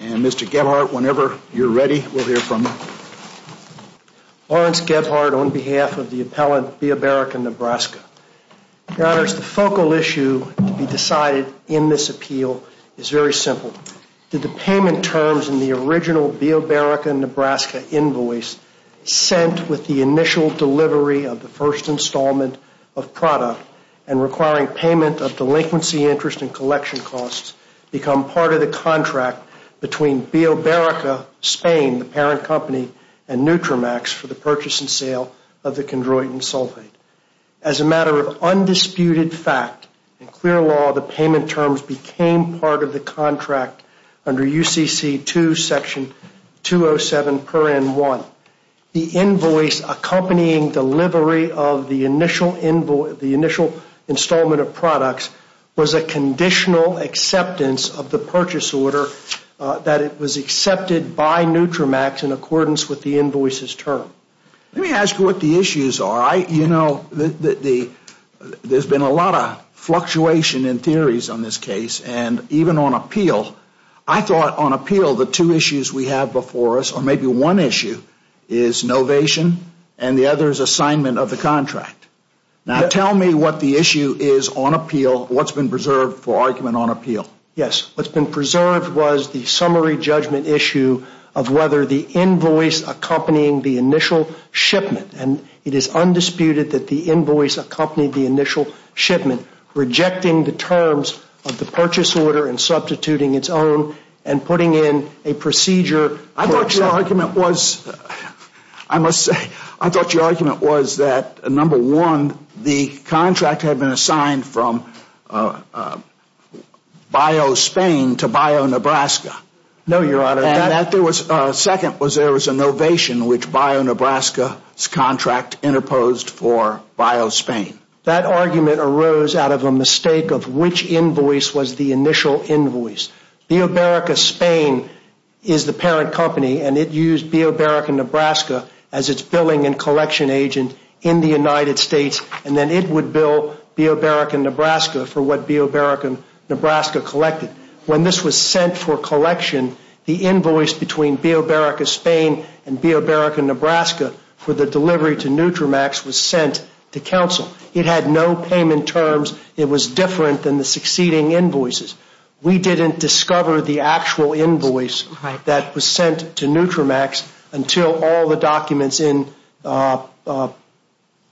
And Mr. Gebhardt, whenever you're ready, we'll hear from you. Lawrence Gebhardt on behalf of the appellant Bioberica Nebraska. Your Honors, the focal issue to be decided in this appeal is very simple. Did the payment terms in the original Bioberica Nebraska invoice sent with the initial delivery of the first installment of product and requiring payment of delinquency interest and collection costs become part of the contract between Bioberica Spain, the parent company, and Nutramax for the purchase and sale of the chondroitin sulfate? As a matter of undisputed fact, in clear law, the payment terms became part of the contract under UCC 2 section 207 per N1. The invoice accompanying delivery of the initial installment of products was a conditional acceptance of the purchase order that it was accepted by Nutramax in accordance with the invoice's term. Let me ask you what the issues are. You know, there's been a lot of fluctuation in theories on this case and even on appeal. I thought on appeal the two issues we have before us, or maybe one issue, is novation and the other is assignment of the contract. Now tell me what the issue is on appeal, what's been preserved for argument on appeal. Yes, what's been preserved was the summary judgment issue of whether the invoice accompanying the initial shipment, and it is undisputed that the invoice accompanied the initial shipment, rejecting the terms of the purchase order and substituting its own and putting in a procedure. I thought your argument was, I must say, I thought your argument was that, number one, the contract had been assigned from Biospain to Bionebraska. No, your honor, and that there was, second was there was a novation which Bionebraska's contract interposed for Biospain. That argument arose out of a mistake of which invoice was the initial invoice. Bioberica Spain is the parent company and it used Bioberica Nebraska as its billing and collection agent in the United States and then it would bill Bioberica Nebraska for what Bioberica Nebraska collected. When this was sent for collection, the invoice between Bioberica Spain and Bioberica Nebraska for the delivery to Nutramax was sent to counsel. It had no payment terms. It was different than the succeeding invoices. We didn't discover the actual invoice that was sent to Nutramax until all the documents in.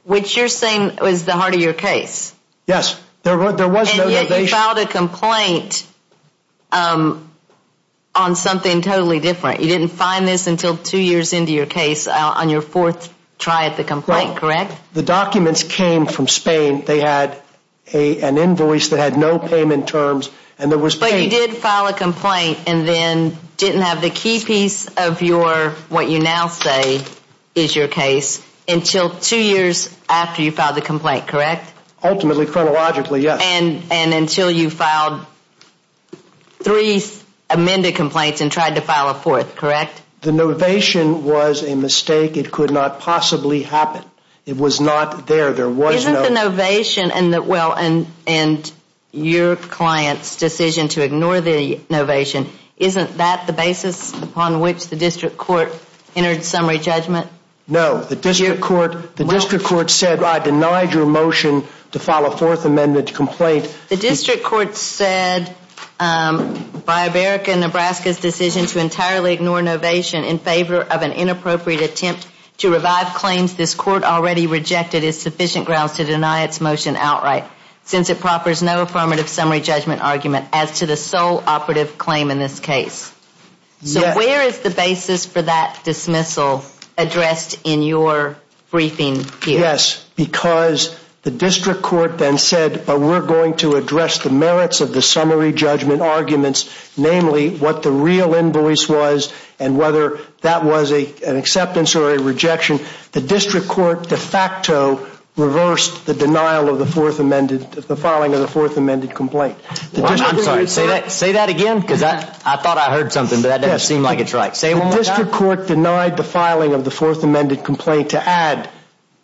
Which you're saying was the heart of your case. Yes, there was no novation. And yet you filed a complaint on something totally different. You didn't find this until two years into your case. On your fourth try at the complaint, correct? The documents came from Spain. They had an invoice that had no payment terms and there was. But you did file a complaint and then didn't have the key piece of your, what you now say is your case until two years after you filed the complaint, correct? Ultimately, chronologically, yes. And until you filed three amended complaints and tried to file a fourth, correct? The novation was a mistake. It could not possibly happen. It was not there. There was no. Isn't the novation and the, well, and your client's decision to ignore the novation, isn't that the basis upon which the district court entered summary judgment? No. The district court. The district court said I denied your motion to file a fourth amended complaint. The district court said by America and Nebraska's decision to entirely ignore novation in favor of an inappropriate attempt to revive claims this court already rejected is sufficient grounds to deny its motion outright since it proffers no affirmative summary judgment argument as to the sole operative claim in this case. So where is the basis for that dismissal addressed in your briefing here? Yes, because the district court then said, but we're going to address the merits of the summary judgment arguments, namely what the real invoice was and whether that was an acceptance or a rejection. The district court de facto reversed the denial of the fourth amended, the filing of the fourth amended complaint. I'm sorry, say that again because I thought I heard something, but that doesn't seem like it's right. Say it one more time. The district court denied the filing of the fourth amended complaint to add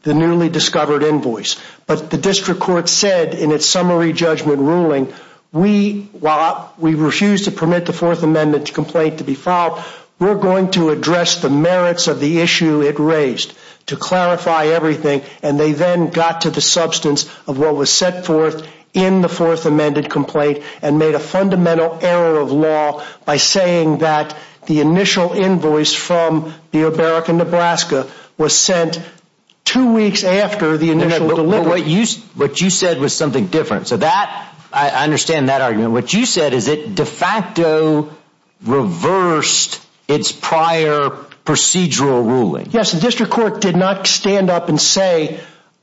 the newly discovered invoice. But the district court said in its summary judgment ruling, we, while we refuse to permit the fourth amended complaint to be filed, we're going to address the merits of the issue it raised to clarify everything. And they then got to the substance of what was set forth in the fourth amended complaint and made a fundamental error of law by saying that the initial invoice from Beo Barrack in Nebraska was sent two weeks after the initial delivery. What you said was something different. So that, I understand that argument. What you said is it de facto reversed its prior procedural ruling. Yes, the district court did not stand up and say,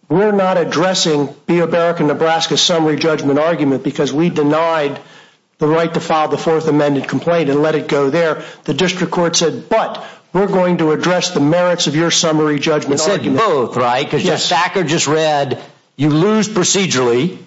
we're not addressing Beo Barrack in Nebraska summary judgment argument because we denied the right to file the fourth amended complaint and let it go there. The district court said, but we're going to address the merits of your summary judgment argument. Both, right? Because just Thacker just read, you lose procedurally.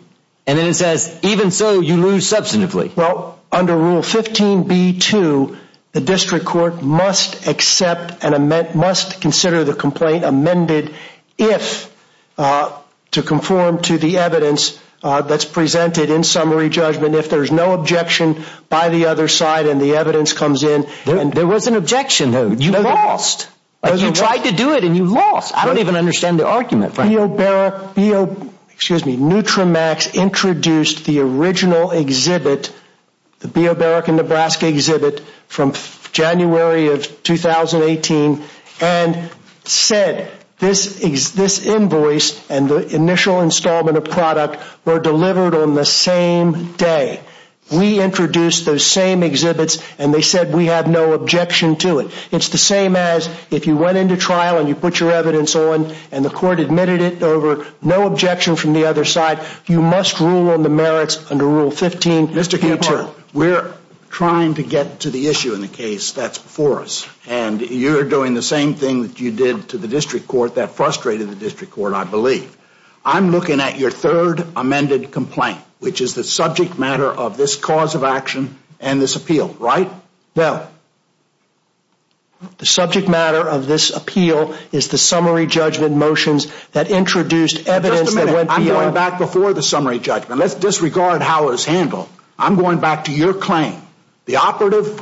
And then it says, even so, you lose substantively. Well, under Rule 15b2, the district court must accept and must consider the complaint amended if, to conform to the evidence that's presented in summary judgment, if there's no objection by the other side and the evidence comes in. There was an objection, though. You lost. You tried to do it and you lost. I don't even understand the argument. Beo Barrack, excuse me, NutraMaxx introduced the original exhibit, the Beo Barrack in Nebraska exhibit, from January of 2018 and said, this invoice and the initial installment of product were delivered on the same day. We introduced those same exhibits and they said we have no objection to it. It's the same as if you went into trial and you put your evidence on and the court admitted it over no objection from the other side, you must rule on the merits under Rule 15b2. Mr. Camphart, we're trying to get to the issue in the case that's before us and you're doing the same thing that you did to the district court that frustrated the district court, I believe. I'm looking at your third amended complaint, which is the subject matter of this cause of action and this appeal, right? Well, the subject matter of this appeal is the summary judgment motions that introduced evidence that went beyond. Just a minute, I'm going back before the summary judgment. Let's disregard how it was handled. I'm going back to your claim. The operative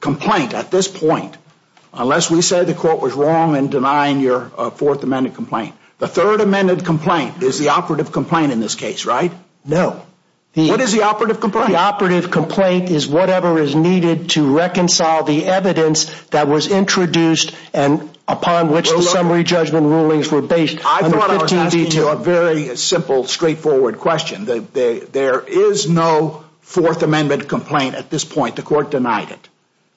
complaint at this point, unless we say the court was wrong in denying your fourth amended complaint, the third amended complaint is the operative complaint in this case, right? No. What is the operative complaint? The operative complaint is whatever is needed to reconcile the evidence that was introduced and upon which the summary judgment rulings were based. I thought I was asking you a very simple, straightforward question. There is no fourth amended complaint at this point. The court denied it.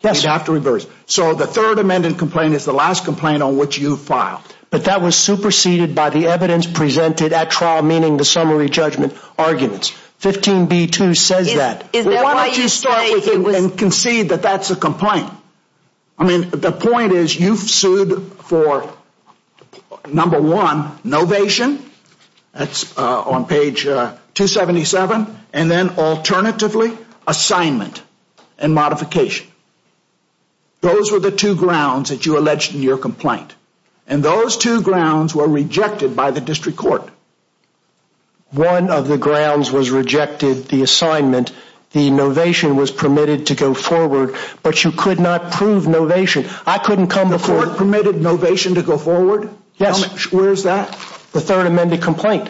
Yes. You'd have to reverse. So the third amended complaint is the last complaint on which you filed. But that was superseded by the evidence presented at trial, meaning the summary judgment arguments. 15B2 says that. Why don't you start with it and concede that that's a complaint? I mean, the point is you've sued for number one, novation. That's on page 277. And then alternatively, assignment and modification. Those were the two grounds that you alleged in your complaint. And those two grounds were rejected by the district court. One of the grounds was rejected, the assignment. The novation was permitted to go forward. But you could not prove novation. I couldn't come before. The court permitted novation to go forward? Yes. Where is that? The third amended complaint.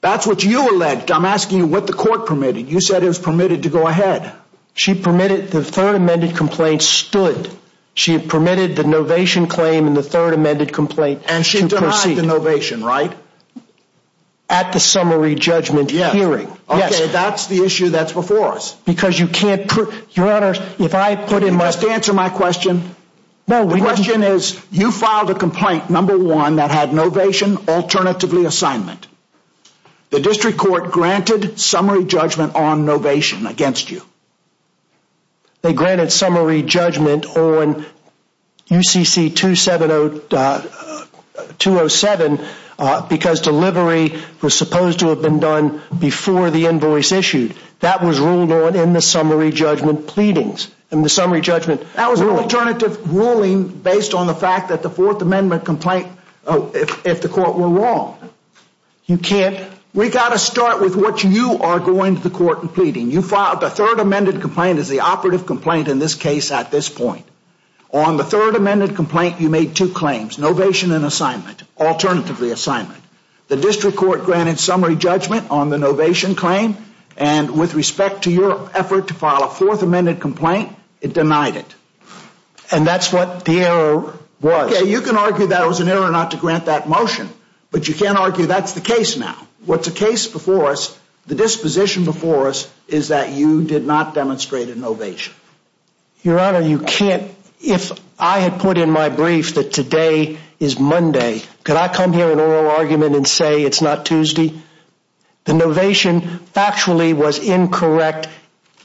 That's what you alleged. I'm asking you what the court permitted. You said it was permitted to go ahead. She permitted the third amended complaint stood. She permitted the novation claim and the third amended complaint to proceed. And she denied the novation, right? At the summary judgment hearing. Yes. Okay, that's the issue that's before us. Because you can't prove, your honor, if I put in my- You must answer my question. The question is, you filed a complaint, number one, that had novation, alternatively assignment. The district court granted summary judgment on novation against you. They granted summary judgment on UCC 2707 because delivery was supposed to have been done before the invoice issued. That was ruled on in the summary judgment pleadings. In the summary judgment ruling. That was an alternative ruling based on the fact that the fourth amendment complaint, if the court were wrong. You can't- We got to start with what you are going to the court and pleading. You filed a third amended complaint as the operative complaint in this case at this point. On the third amended complaint, you made two claims, novation and assignment, alternatively assignment. The district court granted summary judgment on the novation claim. And with respect to your effort to file a fourth amended complaint, it denied it. And that's what the error was. Okay, you can argue that it was an error not to grant that motion. But you can't argue that's the case now. What's the case before us, the disposition before us, is that you did not demonstrate a novation. Your honor, you can't- If I had put in my brief that today is Monday, could I come here in oral argument and say it's not Tuesday? The novation actually was incorrect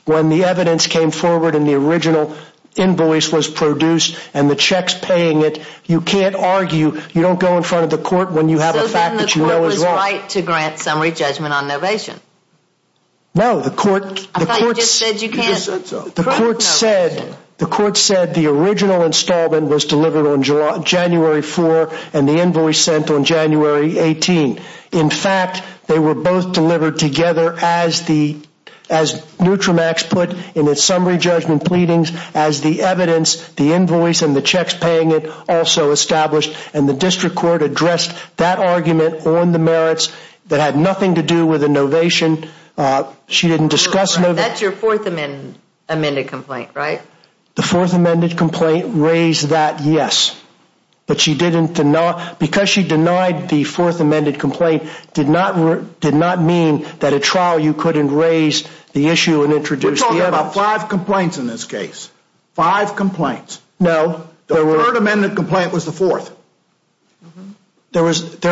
when the evidence came forward and the original invoice was produced and the checks paying it. You can't argue, you don't go in front of the court when you have a fact that you know is wrong. So then the court was right to grant summary judgment on novation? No, the court- I thought you just said you can't- The court said the original installment was delivered on January 4 and the invoice sent on January 18. In fact, they were both delivered together as Nutramax put in its summary judgment pleadings, as the evidence, the invoice, and the checks paying it also established. And the district court addressed that argument on the merits that had nothing to do with the novation. She didn't discuss- That's your fourth amended complaint, right? The fourth amended complaint raised that, yes. But she didn't- because she denied the fourth amended complaint did not mean that at trial you couldn't raise the issue and introduce the evidence. We're talking about five complaints in this case. Five complaints. No. The third amended complaint was the fourth. There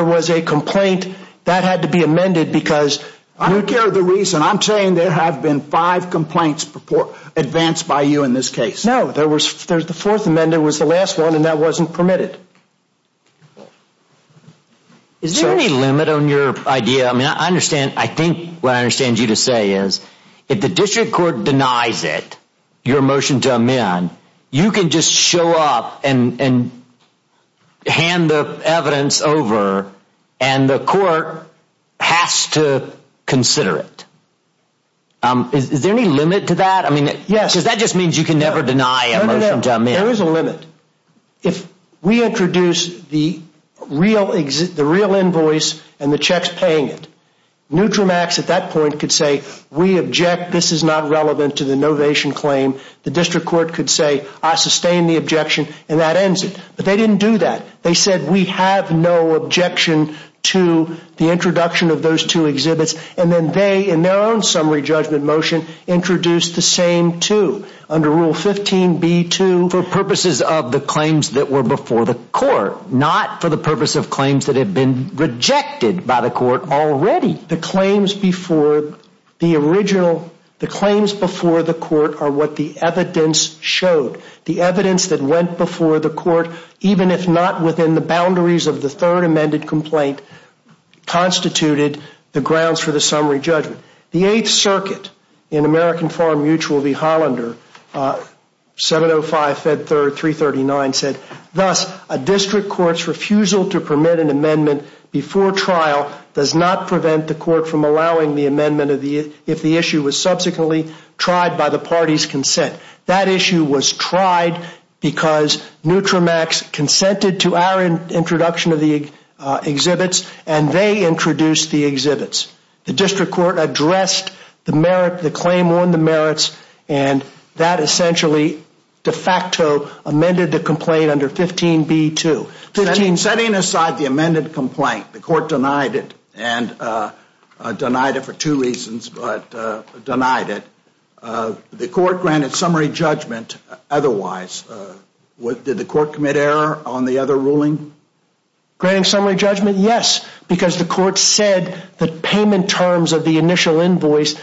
was a complaint that had to be amended because- I don't care the reason, I'm saying there have been five complaints advanced by you in this case. No, the fourth amended was the last one and that wasn't permitted. Is there any limit on your idea? I mean, I understand. I think what I understand you to say is if the district court denies it, your motion to amend, you can just show up and hand the evidence over and the court has to consider it. Is there any limit to that? Yes. Because that just means you can never deny a motion to amend. There is a limit. If we introduce the real invoice and the checks paying it, Nutramax at that point could say we object, this is not relevant to the novation claim. The district court could say I sustain the objection and that ends it. But they didn't do that. They said we have no objection to the introduction of those two exhibits. And then they, in their own summary judgment motion, introduced the same two. Under Rule 15b-2, for purposes of the claims that were before the court, not for the purpose of claims that had been rejected by the court already. The claims before the court are what the evidence showed. The evidence that went before the court, even if not within the boundaries of the third amended complaint, constituted the grounds for the summary judgment. The Eighth Circuit in American Farm Mutual v. Hollander, Senate 05-339 said thus, a district court's refusal to permit an amendment before trial does not prevent the court from allowing the amendment if the issue was subsequently tried by the party's consent. That issue was tried because Nutramax consented to our introduction of the exhibits and they introduced the exhibits. The district court addressed the claim on the merits and that essentially de facto amended the complaint under 15b-2. Setting aside the amended complaint, the court denied it, and denied it for two reasons, but denied it. The court granted summary judgment otherwise. Did the court commit error on the other ruling? Granting summary judgment? Yes. Because the court said that payment terms of the initial invoice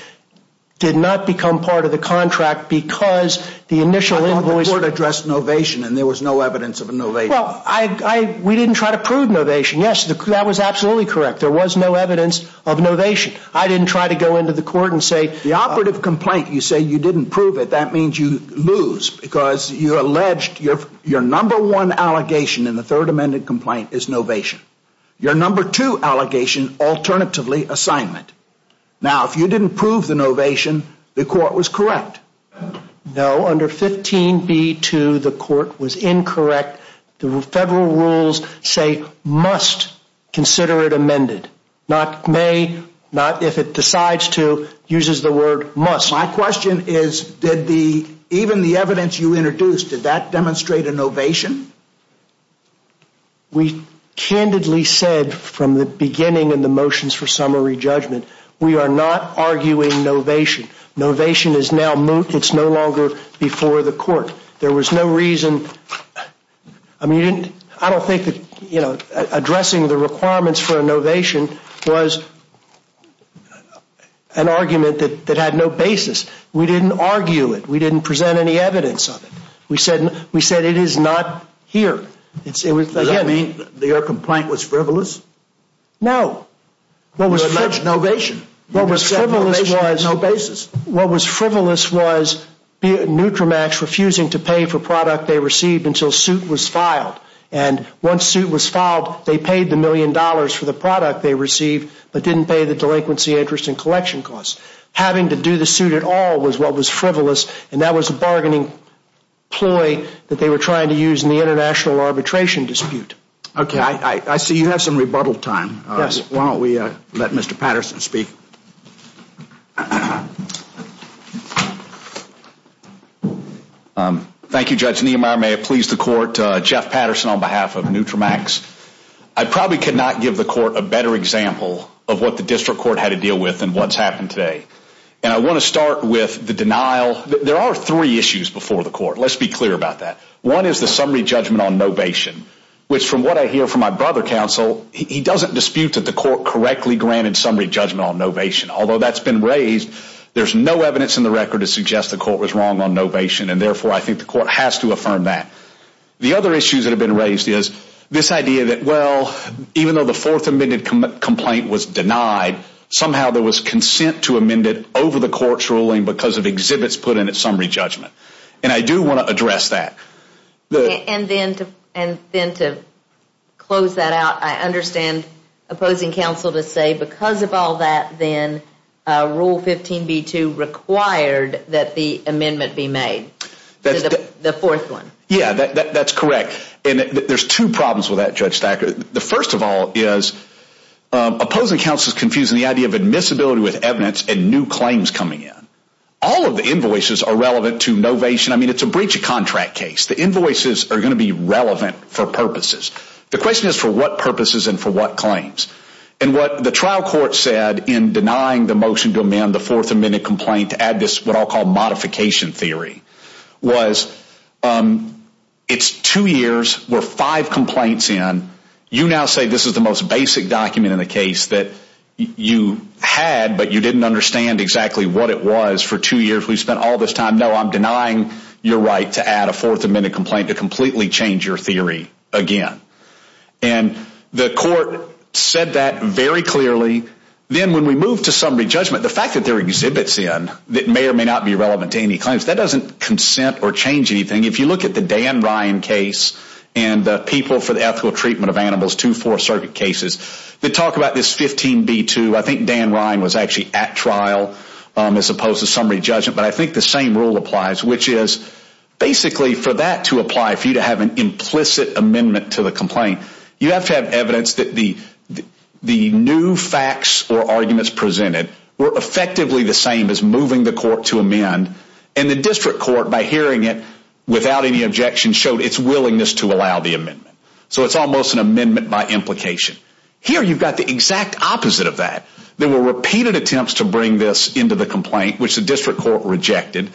did not become part of the contract because the initial invoice... I thought the court addressed novation and there was no evidence of a novation. Well, we didn't try to prove novation. Yes, that was absolutely correct. There was no evidence of novation. I didn't try to go into the court and say... The operative complaint, you say you didn't prove it, that means you lose because you alleged your number one allegation in the third amended complaint is novation. Your number two allegation, alternatively, assignment. Now, if you didn't prove the novation, the court was correct. No, under 15b-2, the court was incorrect. The federal rules say must consider it amended, not may, not if it decides to, uses the word must. My question is, even the evidence you introduced, did that demonstrate a novation? We candidly said from the beginning in the motions for summary judgment, we are not arguing novation. Novation is no longer before the court. There was no reason... I don't think that addressing the requirements for a novation was an argument that had no basis. We didn't argue it. We didn't present any evidence of it. We said it is not here. Does that mean your complaint was frivolous? No. You alleged novation. You said novation is no basis. What was frivolous was Nutramax refusing to pay for product they received until suit was filed. Once suit was filed, they paid the million dollars for the product they received, but didn't pay the delinquency interest and collection costs. Having to do the suit at all was what was frivolous, and that was a bargaining ploy that they were trying to use in the international arbitration dispute. I see you have some rebuttal time. Why don't we let Mr. Patterson speak? May it please the court. Thank you. My name is Jeff Patterson on behalf of Nutramax. I probably could not give the court a better example of what the district court had to deal with than what's happened today. I want to start with the denial. There are three issues before the court. Let's be clear about that. One is the summary judgment on novation, which from what I hear from my brother counsel, he doesn't dispute that the court correctly granted summary judgment on novation. Although that's been raised, there's no evidence in the record to suggest the court was wrong on novation, and therefore I think the court has to affirm that. The other issues that have been raised is this idea that, well, even though the fourth amended complaint was denied, somehow there was consent to amend it over the court's ruling because of exhibits put in its summary judgment. And I do want to address that. And then to close that out, I understand opposing counsel to say because of all that, then Rule 15b-2 required that the amendment be made. The fourth one. Yeah, that's correct. And there's two problems with that, Judge Stacker. The first of all is opposing counsel is confusing the idea of admissibility with evidence and new claims coming in. All of the invoices are relevant to novation. I mean, it's a breach of contract case. The invoices are going to be relevant for purposes. The question is for what purposes and for what claims. And what the trial court said in denying the motion to amend the fourth amended complaint to add this what I'll call modification theory was it's two years. We're five complaints in. You now say this is the most basic document in the case that you had, but you didn't understand exactly what it was for two years. We spent all this time. No, I'm denying your right to add a fourth amended complaint to completely change your theory again. And the court said that very clearly. Then when we move to summary judgment, the fact that there are exhibits in that may or may not be relevant to any claims, that doesn't consent or change anything. If you look at the Dan Ryan case and the people for the ethical treatment of animals, two Fourth Circuit cases that talk about this 15B2, I think Dan Ryan was actually at trial as opposed to summary judgment. But I think the same rule applies, which is basically for that to apply, for you to have an implicit amendment to the complaint, you have to have evidence that the new facts or arguments presented were effectively the same as moving the court to amend. And the district court, by hearing it without any objection, showed its willingness to allow the amendment. So it's almost an amendment by implication. Here you've got the exact opposite of that. There were repeated attempts to bring this into the complaint, which the district court rejected.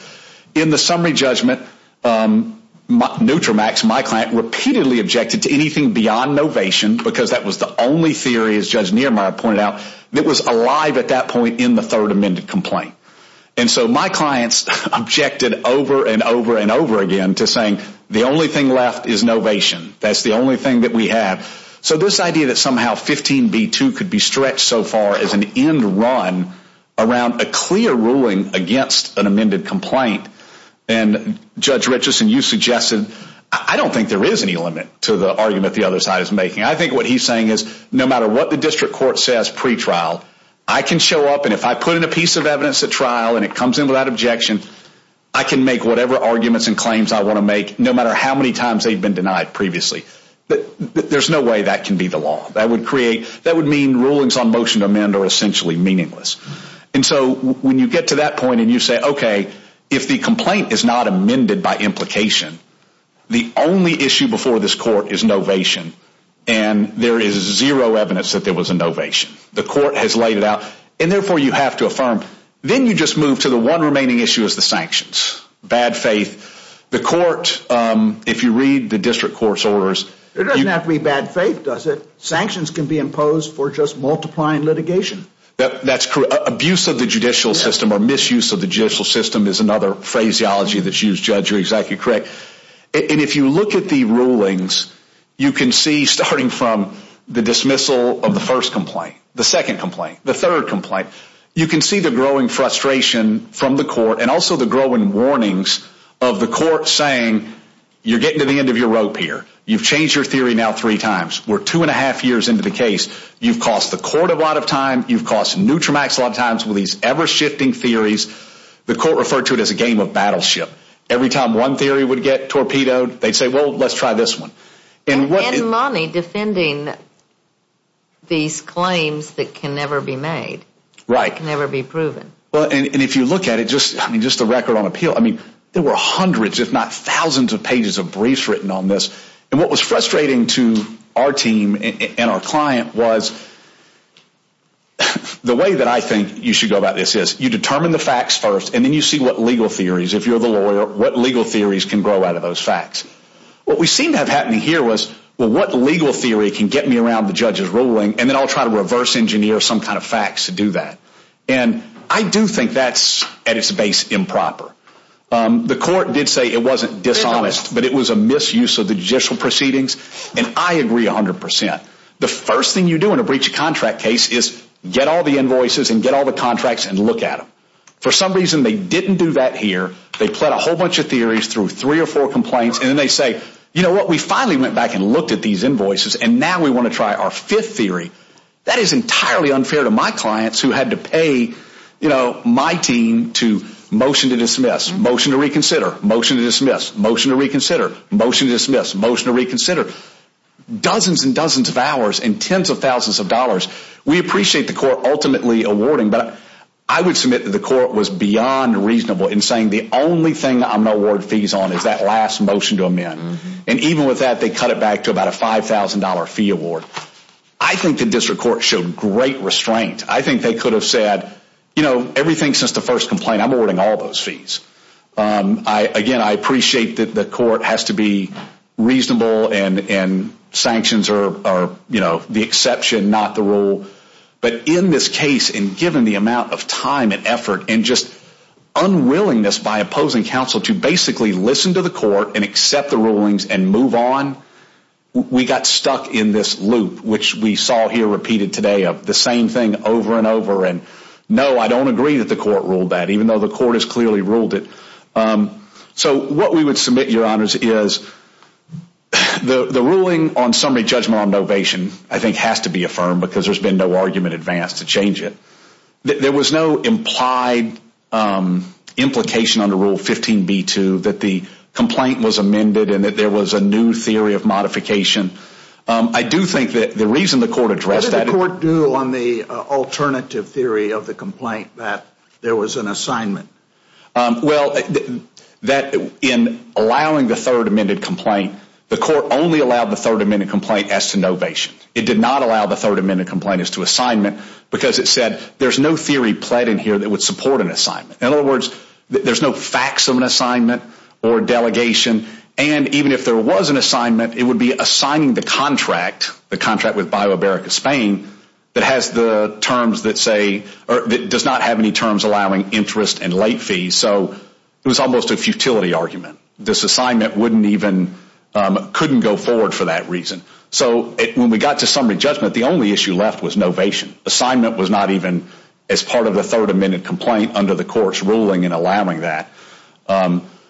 In the summary judgment, Nutramax, my client, repeatedly objected to anything beyond novation, because that was the only theory, as Judge Niemeyer pointed out, that was alive at that point in the third amended complaint. And so my clients objected over and over and over again to saying, the only thing left is novation. That's the only thing that we have. So this idea that somehow 15B2 could be stretched so far as an end run around a clear ruling against an amended complaint, and Judge Richardson, you suggested, I don't think there is any limit to the argument the other side is making. I think what he's saying is no matter what the district court says pre-trial, I can show up and if I put in a piece of evidence at trial and it comes in without objection, I can make whatever arguments and claims I want to make, no matter how many times they've been denied previously. There's no way that can be the law. That would mean rulings on motion to amend are essentially meaningless. And so when you get to that point and you say, okay, if the complaint is not amended by implication, the only issue before this court is novation, and there is zero evidence that there was a novation. The court has laid it out, and therefore you have to affirm. Then you just move to the one remaining issue is the sanctions. Bad faith. The court, if you read the district court's orders, it doesn't have to be bad faith, does it? Sanctions can be imposed for just multiplying litigation. That's correct. Abuse of the judicial system or misuse of the judicial system is another phraseology that's used, Judge. You're exactly correct. And if you look at the rulings, you can see starting from the dismissal of the first complaint, the second complaint, the third complaint, you can see the growing frustration from the court and also the growing warnings of the court saying, you're getting to the end of your rope here. You've changed your theory now three times. We're two and a half years into the case. You've cost the court a lot of time. You've cost Nutramax a lot of times with these ever-shifting theories. The court referred to it as a game of battleship. Every time one theory would get torpedoed, they'd say, well, let's try this one. And money defending these claims that can never be made. Right. That can never be proven. And if you look at it, just the record on appeal, I mean, there were hundreds if not thousands of pages of briefs written on this. And what was frustrating to our team and our client was, the way that I think you should go about this is, you determine the facts first and then you see what legal theories, if you're the lawyer, what legal theories can grow out of those facts. What we seem to have happening here was, well, what legal theory can get me around the judge's ruling and then I'll try to reverse engineer some kind of facts to do that. And I do think that's, at its base, improper. The court did say it wasn't dishonest, but it was a misuse of the judicial proceedings. And I agree 100%. The first thing you do in a breach of contract case is get all the invoices and get all the contracts and look at them. For some reason, they didn't do that here. They pled a whole bunch of theories through three or four complaints and then they say, you know what, we finally went back and looked at these invoices and now we want to try our fifth theory. That is entirely unfair to my clients who had to pay my team to motion to dismiss, motion to reconsider, motion to dismiss, motion to reconsider, motion to dismiss, motion to reconsider. Dozens and dozens of hours and tens of thousands of dollars. We appreciate the court ultimately awarding, but I would submit that the court was beyond reasonable in saying the only thing I'm going to award fees on is that last motion to amend. And even with that, they cut it back to about a $5,000 fee award. I think the district court showed great restraint. I think they could have said, you know, everything since the first complaint, I'm awarding all those fees. Again, I appreciate that the court has to be reasonable and sanctions are the exception, not the rule. But in this case, and given the amount of time and effort and just unwillingness and move on, we got stuck in this loop which we saw here repeated today of the same thing over and over. And no, I don't agree that the court ruled that, even though the court has clearly ruled it. So what we would submit, Your Honors, is the ruling on summary judgment on novation I think has to be affirmed because there's been no argument advanced to change it. There was no implied implication under Rule 15b-2 that the complaint was amended and that there was a new theory of modification. I do think that the reason the court addressed that. What did the court do on the alternative theory of the complaint that there was an assignment? Well, that in allowing the third amended complaint, the court only allowed the third amended complaint as to novation. It did not allow the third amended complaint as to assignment because it said there's no theory pled in here that would support an assignment. In other words, there's no facts of an assignment or delegation. And even if there was an assignment, it would be assigning the contract, the contract with BioAmerica Spain, that has the terms that say, or does not have any terms allowing interest and late fees. So it was almost a futility argument. This assignment wouldn't even, couldn't go forward for that reason. So when we got to summary judgment, the only issue left was novation. Assignment was not even as part of the third amended complaint under the court's ruling in allowing that.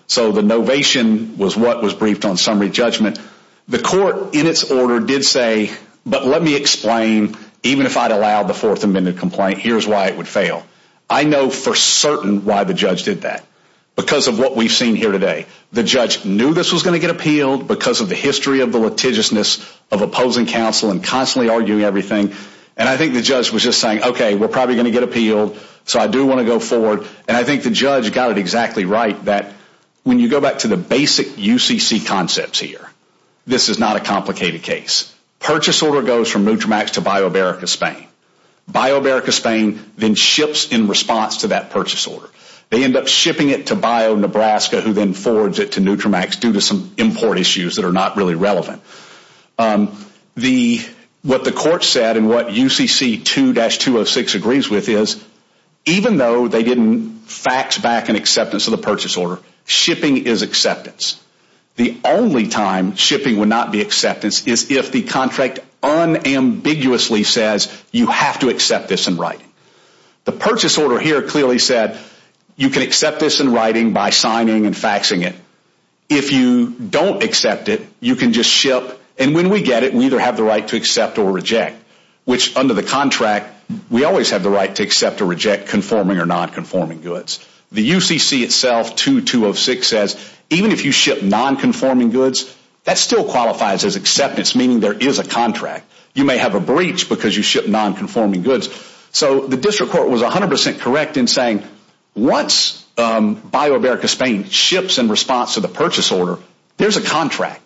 So the novation was what was briefed on summary judgment. The court in its order did say, but let me explain, even if I'd allowed the fourth amended complaint, here's why it would fail. I know for certain why the judge did that. Because of what we've seen here today. The judge knew this was going to get appealed because of the history of the litigiousness of opposing counsel and constantly arguing everything. And I think the judge was just saying, okay, we're probably going to get appealed. So I do want to go forward. And I think the judge got it exactly right, that when you go back to the basic UCC concepts here, this is not a complicated case. Purchase order goes from Nutramax to BioAmerica Spain. BioAmerica Spain then ships in response to that purchase order. They end up shipping it to Bio Nebraska, who then forwards it to Nutramax due to some import issues that are not really relevant. What the court said and what UCC 2-206 agrees with is, even though they didn't fax back an acceptance of the purchase order, shipping is acceptance. The only time shipping would not be acceptance is if the contract unambiguously says, you have to accept this in writing. The purchase order here clearly said, you can accept this in writing by signing and faxing it. If you don't accept it, you can just ship. And when we get it, we either have the right to accept or reject, which under the contract, we always have the right to accept or reject conforming or nonconforming goods. The UCC itself 2-206 says, even if you ship nonconforming goods, that still qualifies as acceptance, meaning there is a contract. You may have a breach because you ship nonconforming goods. So the district court was 100% correct in saying, once BioAmerica Spain ships in response to the purchase order, there's a contract.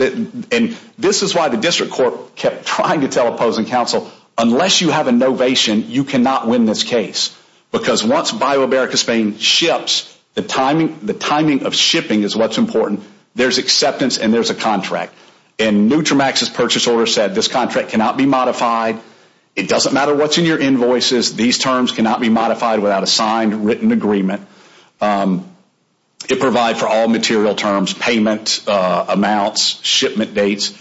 And this is why the district court kept trying to tell opposing counsel, unless you have a novation, you cannot win this case. Because once BioAmerica Spain ships, the timing of shipping is what's important. There's acceptance and there's a contract. And Nutramax's purchase order said, this contract cannot be modified. It doesn't matter what's in your invoices. These terms cannot be modified without a signed written agreement. It provides for all material terms, payment amounts, shipment dates.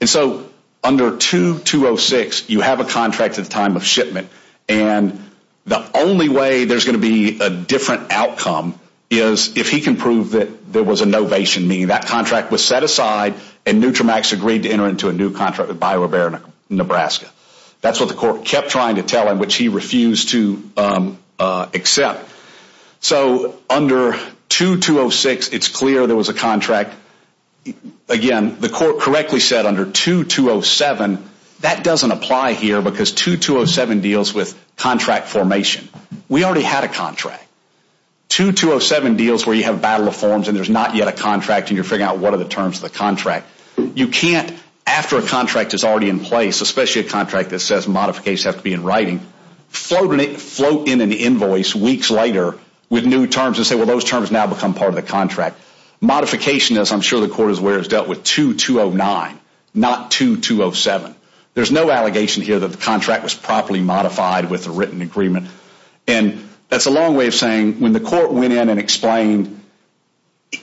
And so under 2-206, you have a contract at the time of shipment. And the only way there's going to be a different outcome is if he can prove that there was a novation, meaning that contract was set aside and Nutramax agreed to enter into a new contract with BioAmerica Nebraska. That's what the court kept trying to tell him, which he refused to accept. So under 2-206, it's clear there was a contract. Again, the court correctly said under 2-207, that doesn't apply here because 2-207 deals with contract formation. We already had a contract. 2-207 deals where you have a battle of forms and there's not yet a contract and you're figuring out what are the terms of the contract. You can't, after a contract is already in place, especially a contract that says modifications have to be in writing, float in an invoice weeks later with new terms and say, well, those terms now become part of the contract. Modification, as I'm sure the court is aware, is dealt with 2-209, not 2-207. There's no allegation here that the contract was properly modified with a written agreement. And that's a long way of saying when the court went in and explained,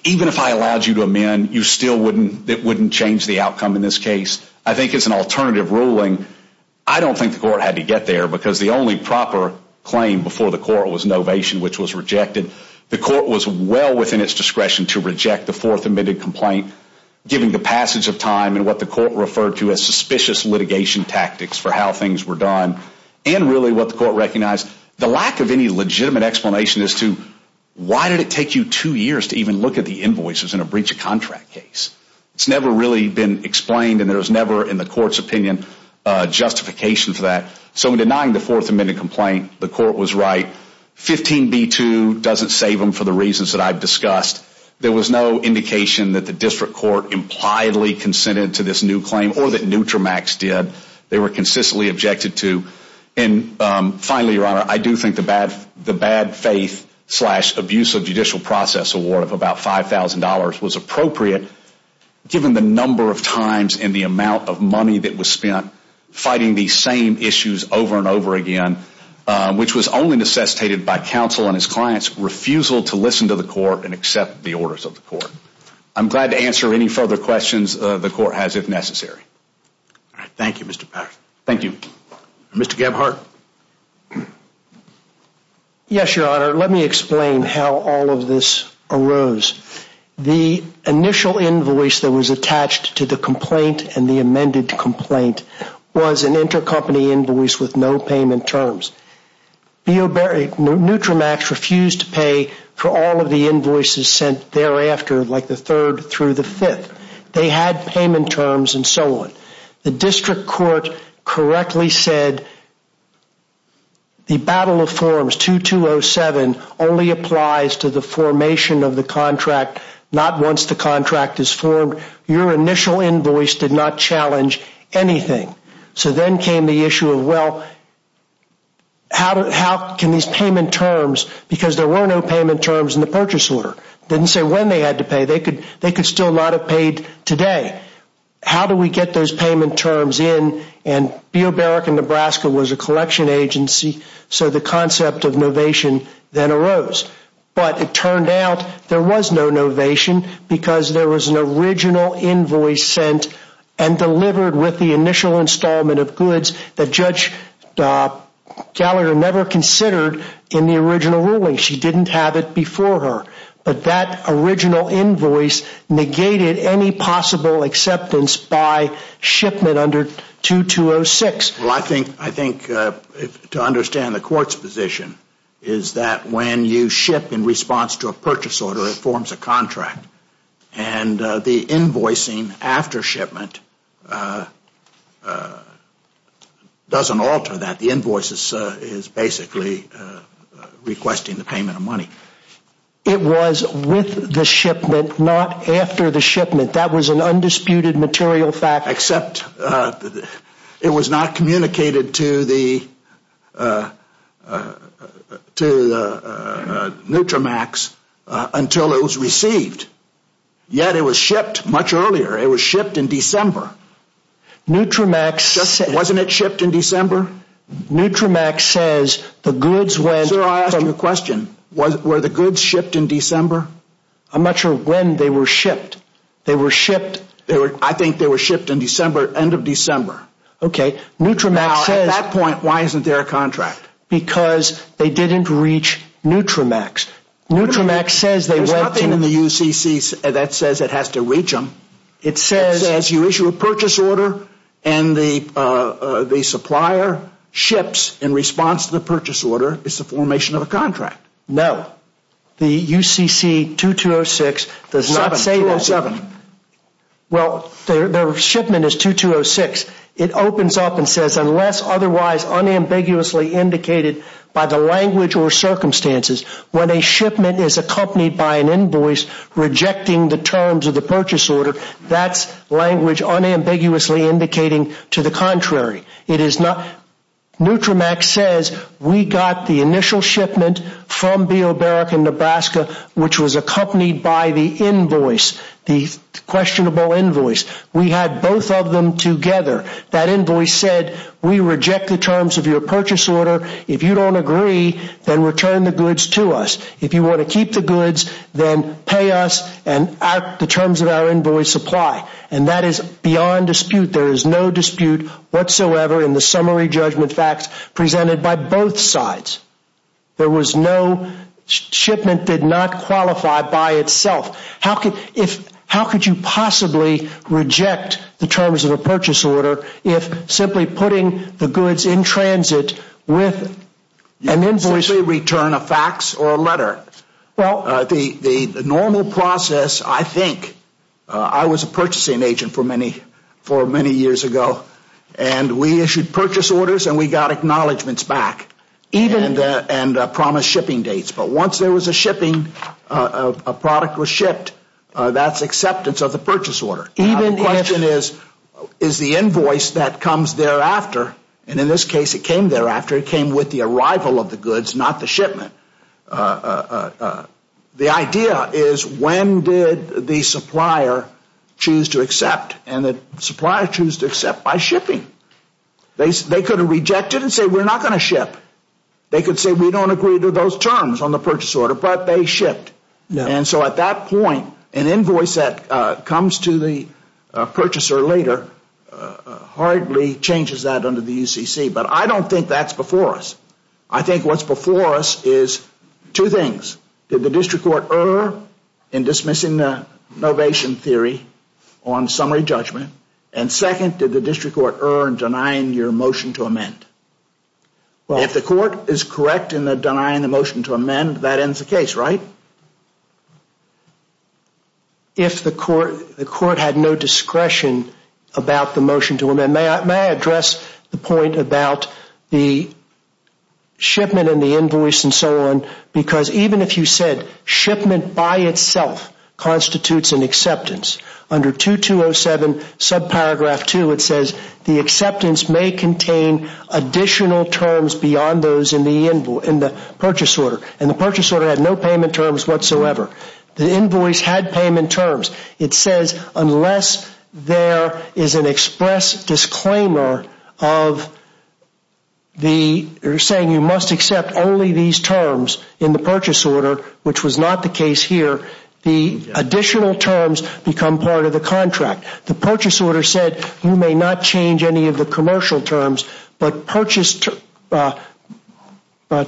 even if I allowed you to amend, you still wouldn't change the outcome in this case. I think it's an alternative ruling. I don't think the court had to get there because the only proper claim before the court was novation, which was rejected. The court was well within its discretion to reject the fourth amended complaint, given the passage of time and what the court referred to as suspicious litigation tactics for how things were done and really what the court recognized. The lack of any legitimate explanation as to why did it take you two years to even look at the invoices in a breach of contract case. It's never really been explained and there's never, in the court's opinion, justification for that. So in denying the fourth amended complaint, the court was right. 15b-2 doesn't save them for the reasons that I've discussed. There was no indication that the district court impliedly consented to this new claim or that Nutramax did. They were consistently objected to. Finally, Your Honor, I do think the bad faith slash abusive judicial process award of about $5,000 was appropriate given the number of times and the amount of money that was spent fighting these same issues over and over again, which was only necessitated by counsel and his client's refusal to listen to the court and accept the orders of the court. I'm glad to answer any further questions the court has if necessary. Thank you, Mr. Patterson. Thank you. Mr. Gebhardt. Yes, Your Honor. Let me explain how all of this arose. The initial invoice that was attached to the complaint and the amended complaint was an intercompany invoice with no payment terms. Nutramax refused to pay for all of the invoices sent thereafter, like the third through the fifth. They had payment terms and so on. The district court correctly said the battle of forms 2207 only applies to the formation of the contract, not once the contract is formed. Your initial invoice did not challenge anything. So then came the issue of, well, how can these payment terms, because there were no payment terms in the purchase order, didn't say when they had to pay. They could still not have paid today. How do we get those payment terms in? And B.O. Barrack in Nebraska was a collection agency, so the concept of novation then arose. But it turned out there was no novation because there was an original invoice sent and delivered with the initial installment of goods that Judge Gallagher never considered in the original ruling. She didn't have it before her. But that original invoice negated any possible acceptance by shipment under 2206. Well, I think to understand the court's position is that when you ship in response to a purchase order, it forms a contract. And the invoicing after shipment doesn't alter that. It was with the shipment, not after the shipment. That was an undisputed material fact. Except it was not communicated to the Nutramax until it was received. Yet it was shipped much earlier. It was shipped in December. Nutramax. Wasn't it shipped in December? Nutramax says the goods went. Sir, I asked you a question. Were the goods shipped in December? I'm not sure when they were shipped. They were shipped. I think they were shipped in December, end of December. Okay. Nutramax says. Now, at that point, why isn't there a contract? Because they didn't reach Nutramax. Nutramax says they went to. There's nothing in the UCC that says it has to reach them. It says. It says you issue a purchase order and the supplier ships in response to the purchase order. It's a formation of a contract. No. The UCC 2206 does not say that. Well, their shipment is 2206. It opens up and says, unless otherwise unambiguously indicated by the language or circumstances, when a shipment is accompanied by an invoice rejecting the terms of the purchase order, that's language unambiguously indicating to the contrary. Nutramax says we got the initial shipment from B.O. Barrack in Nebraska, which was accompanied by the invoice, the questionable invoice. We had both of them together. That invoice said we reject the terms of your purchase order. If you don't agree, then return the goods to us. If you want to keep the goods, then pay us and the terms of our invoice apply. And that is beyond dispute. There is no dispute whatsoever in the summary judgment facts presented by both sides. There was no shipment that did not qualify by itself. How could you possibly reject the terms of a purchase order if simply putting the goods in transit with an invoice? You simply return a fax or a letter. The normal process, I think, I was a purchasing agent for many years ago, and we issued purchase orders and we got acknowledgments back and promised shipping dates. But once there was a shipping, a product was shipped, that's acceptance of the purchase order. The question is, is the invoice that comes thereafter, and in this case it came thereafter, it came with the arrival of the goods, not the shipment. The idea is when did the supplier choose to accept, and the supplier chose to accept by shipping. They could have rejected and said we're not going to ship. They could say we don't agree to those terms on the purchase order, but they shipped. And so at that point, an invoice that comes to the purchaser later hardly changes that under the UCC. But I don't think that's before us. I think what's before us is two things. Did the district court err in dismissing the innovation theory on summary judgment? And second, did the district court err in denying your motion to amend? If the court is correct in denying the motion to amend, that ends the case, right? And may I address the point about the shipment and the invoice and so on? Because even if you said shipment by itself constitutes an acceptance, under 2207 subparagraph 2, it says the acceptance may contain additional terms beyond those in the purchase order. And the purchase order had no payment terms whatsoever. The invoice had payment terms. It says unless there is an express disclaimer of the saying you must accept only these terms in the purchase order, which was not the case here, the additional terms become part of the contract. The purchase order said you may not change any of the commercial terms, but purchase terms are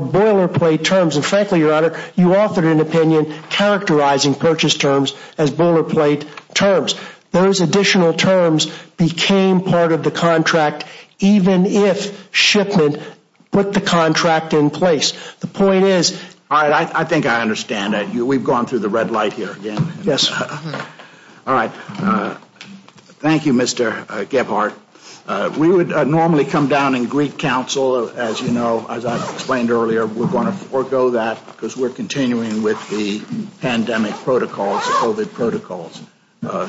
boilerplate terms. And frankly, Your Honor, you offered an opinion characterizing purchase terms as boilerplate terms. Those additional terms became part of the contract even if shipment put the contract in place. The point is- All right, I think I understand that. We've gone through the red light here again. Yes. All right. Thank you, Mr. Gebhardt. We would normally come down and greet counsel, as you know, as I explained earlier. We're going to forego that because we're continuing with the pandemic protocols, COVID protocols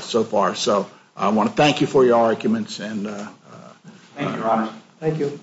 so far. So I want to thank you for your arguments. Thank you, Your Honor. Thank you.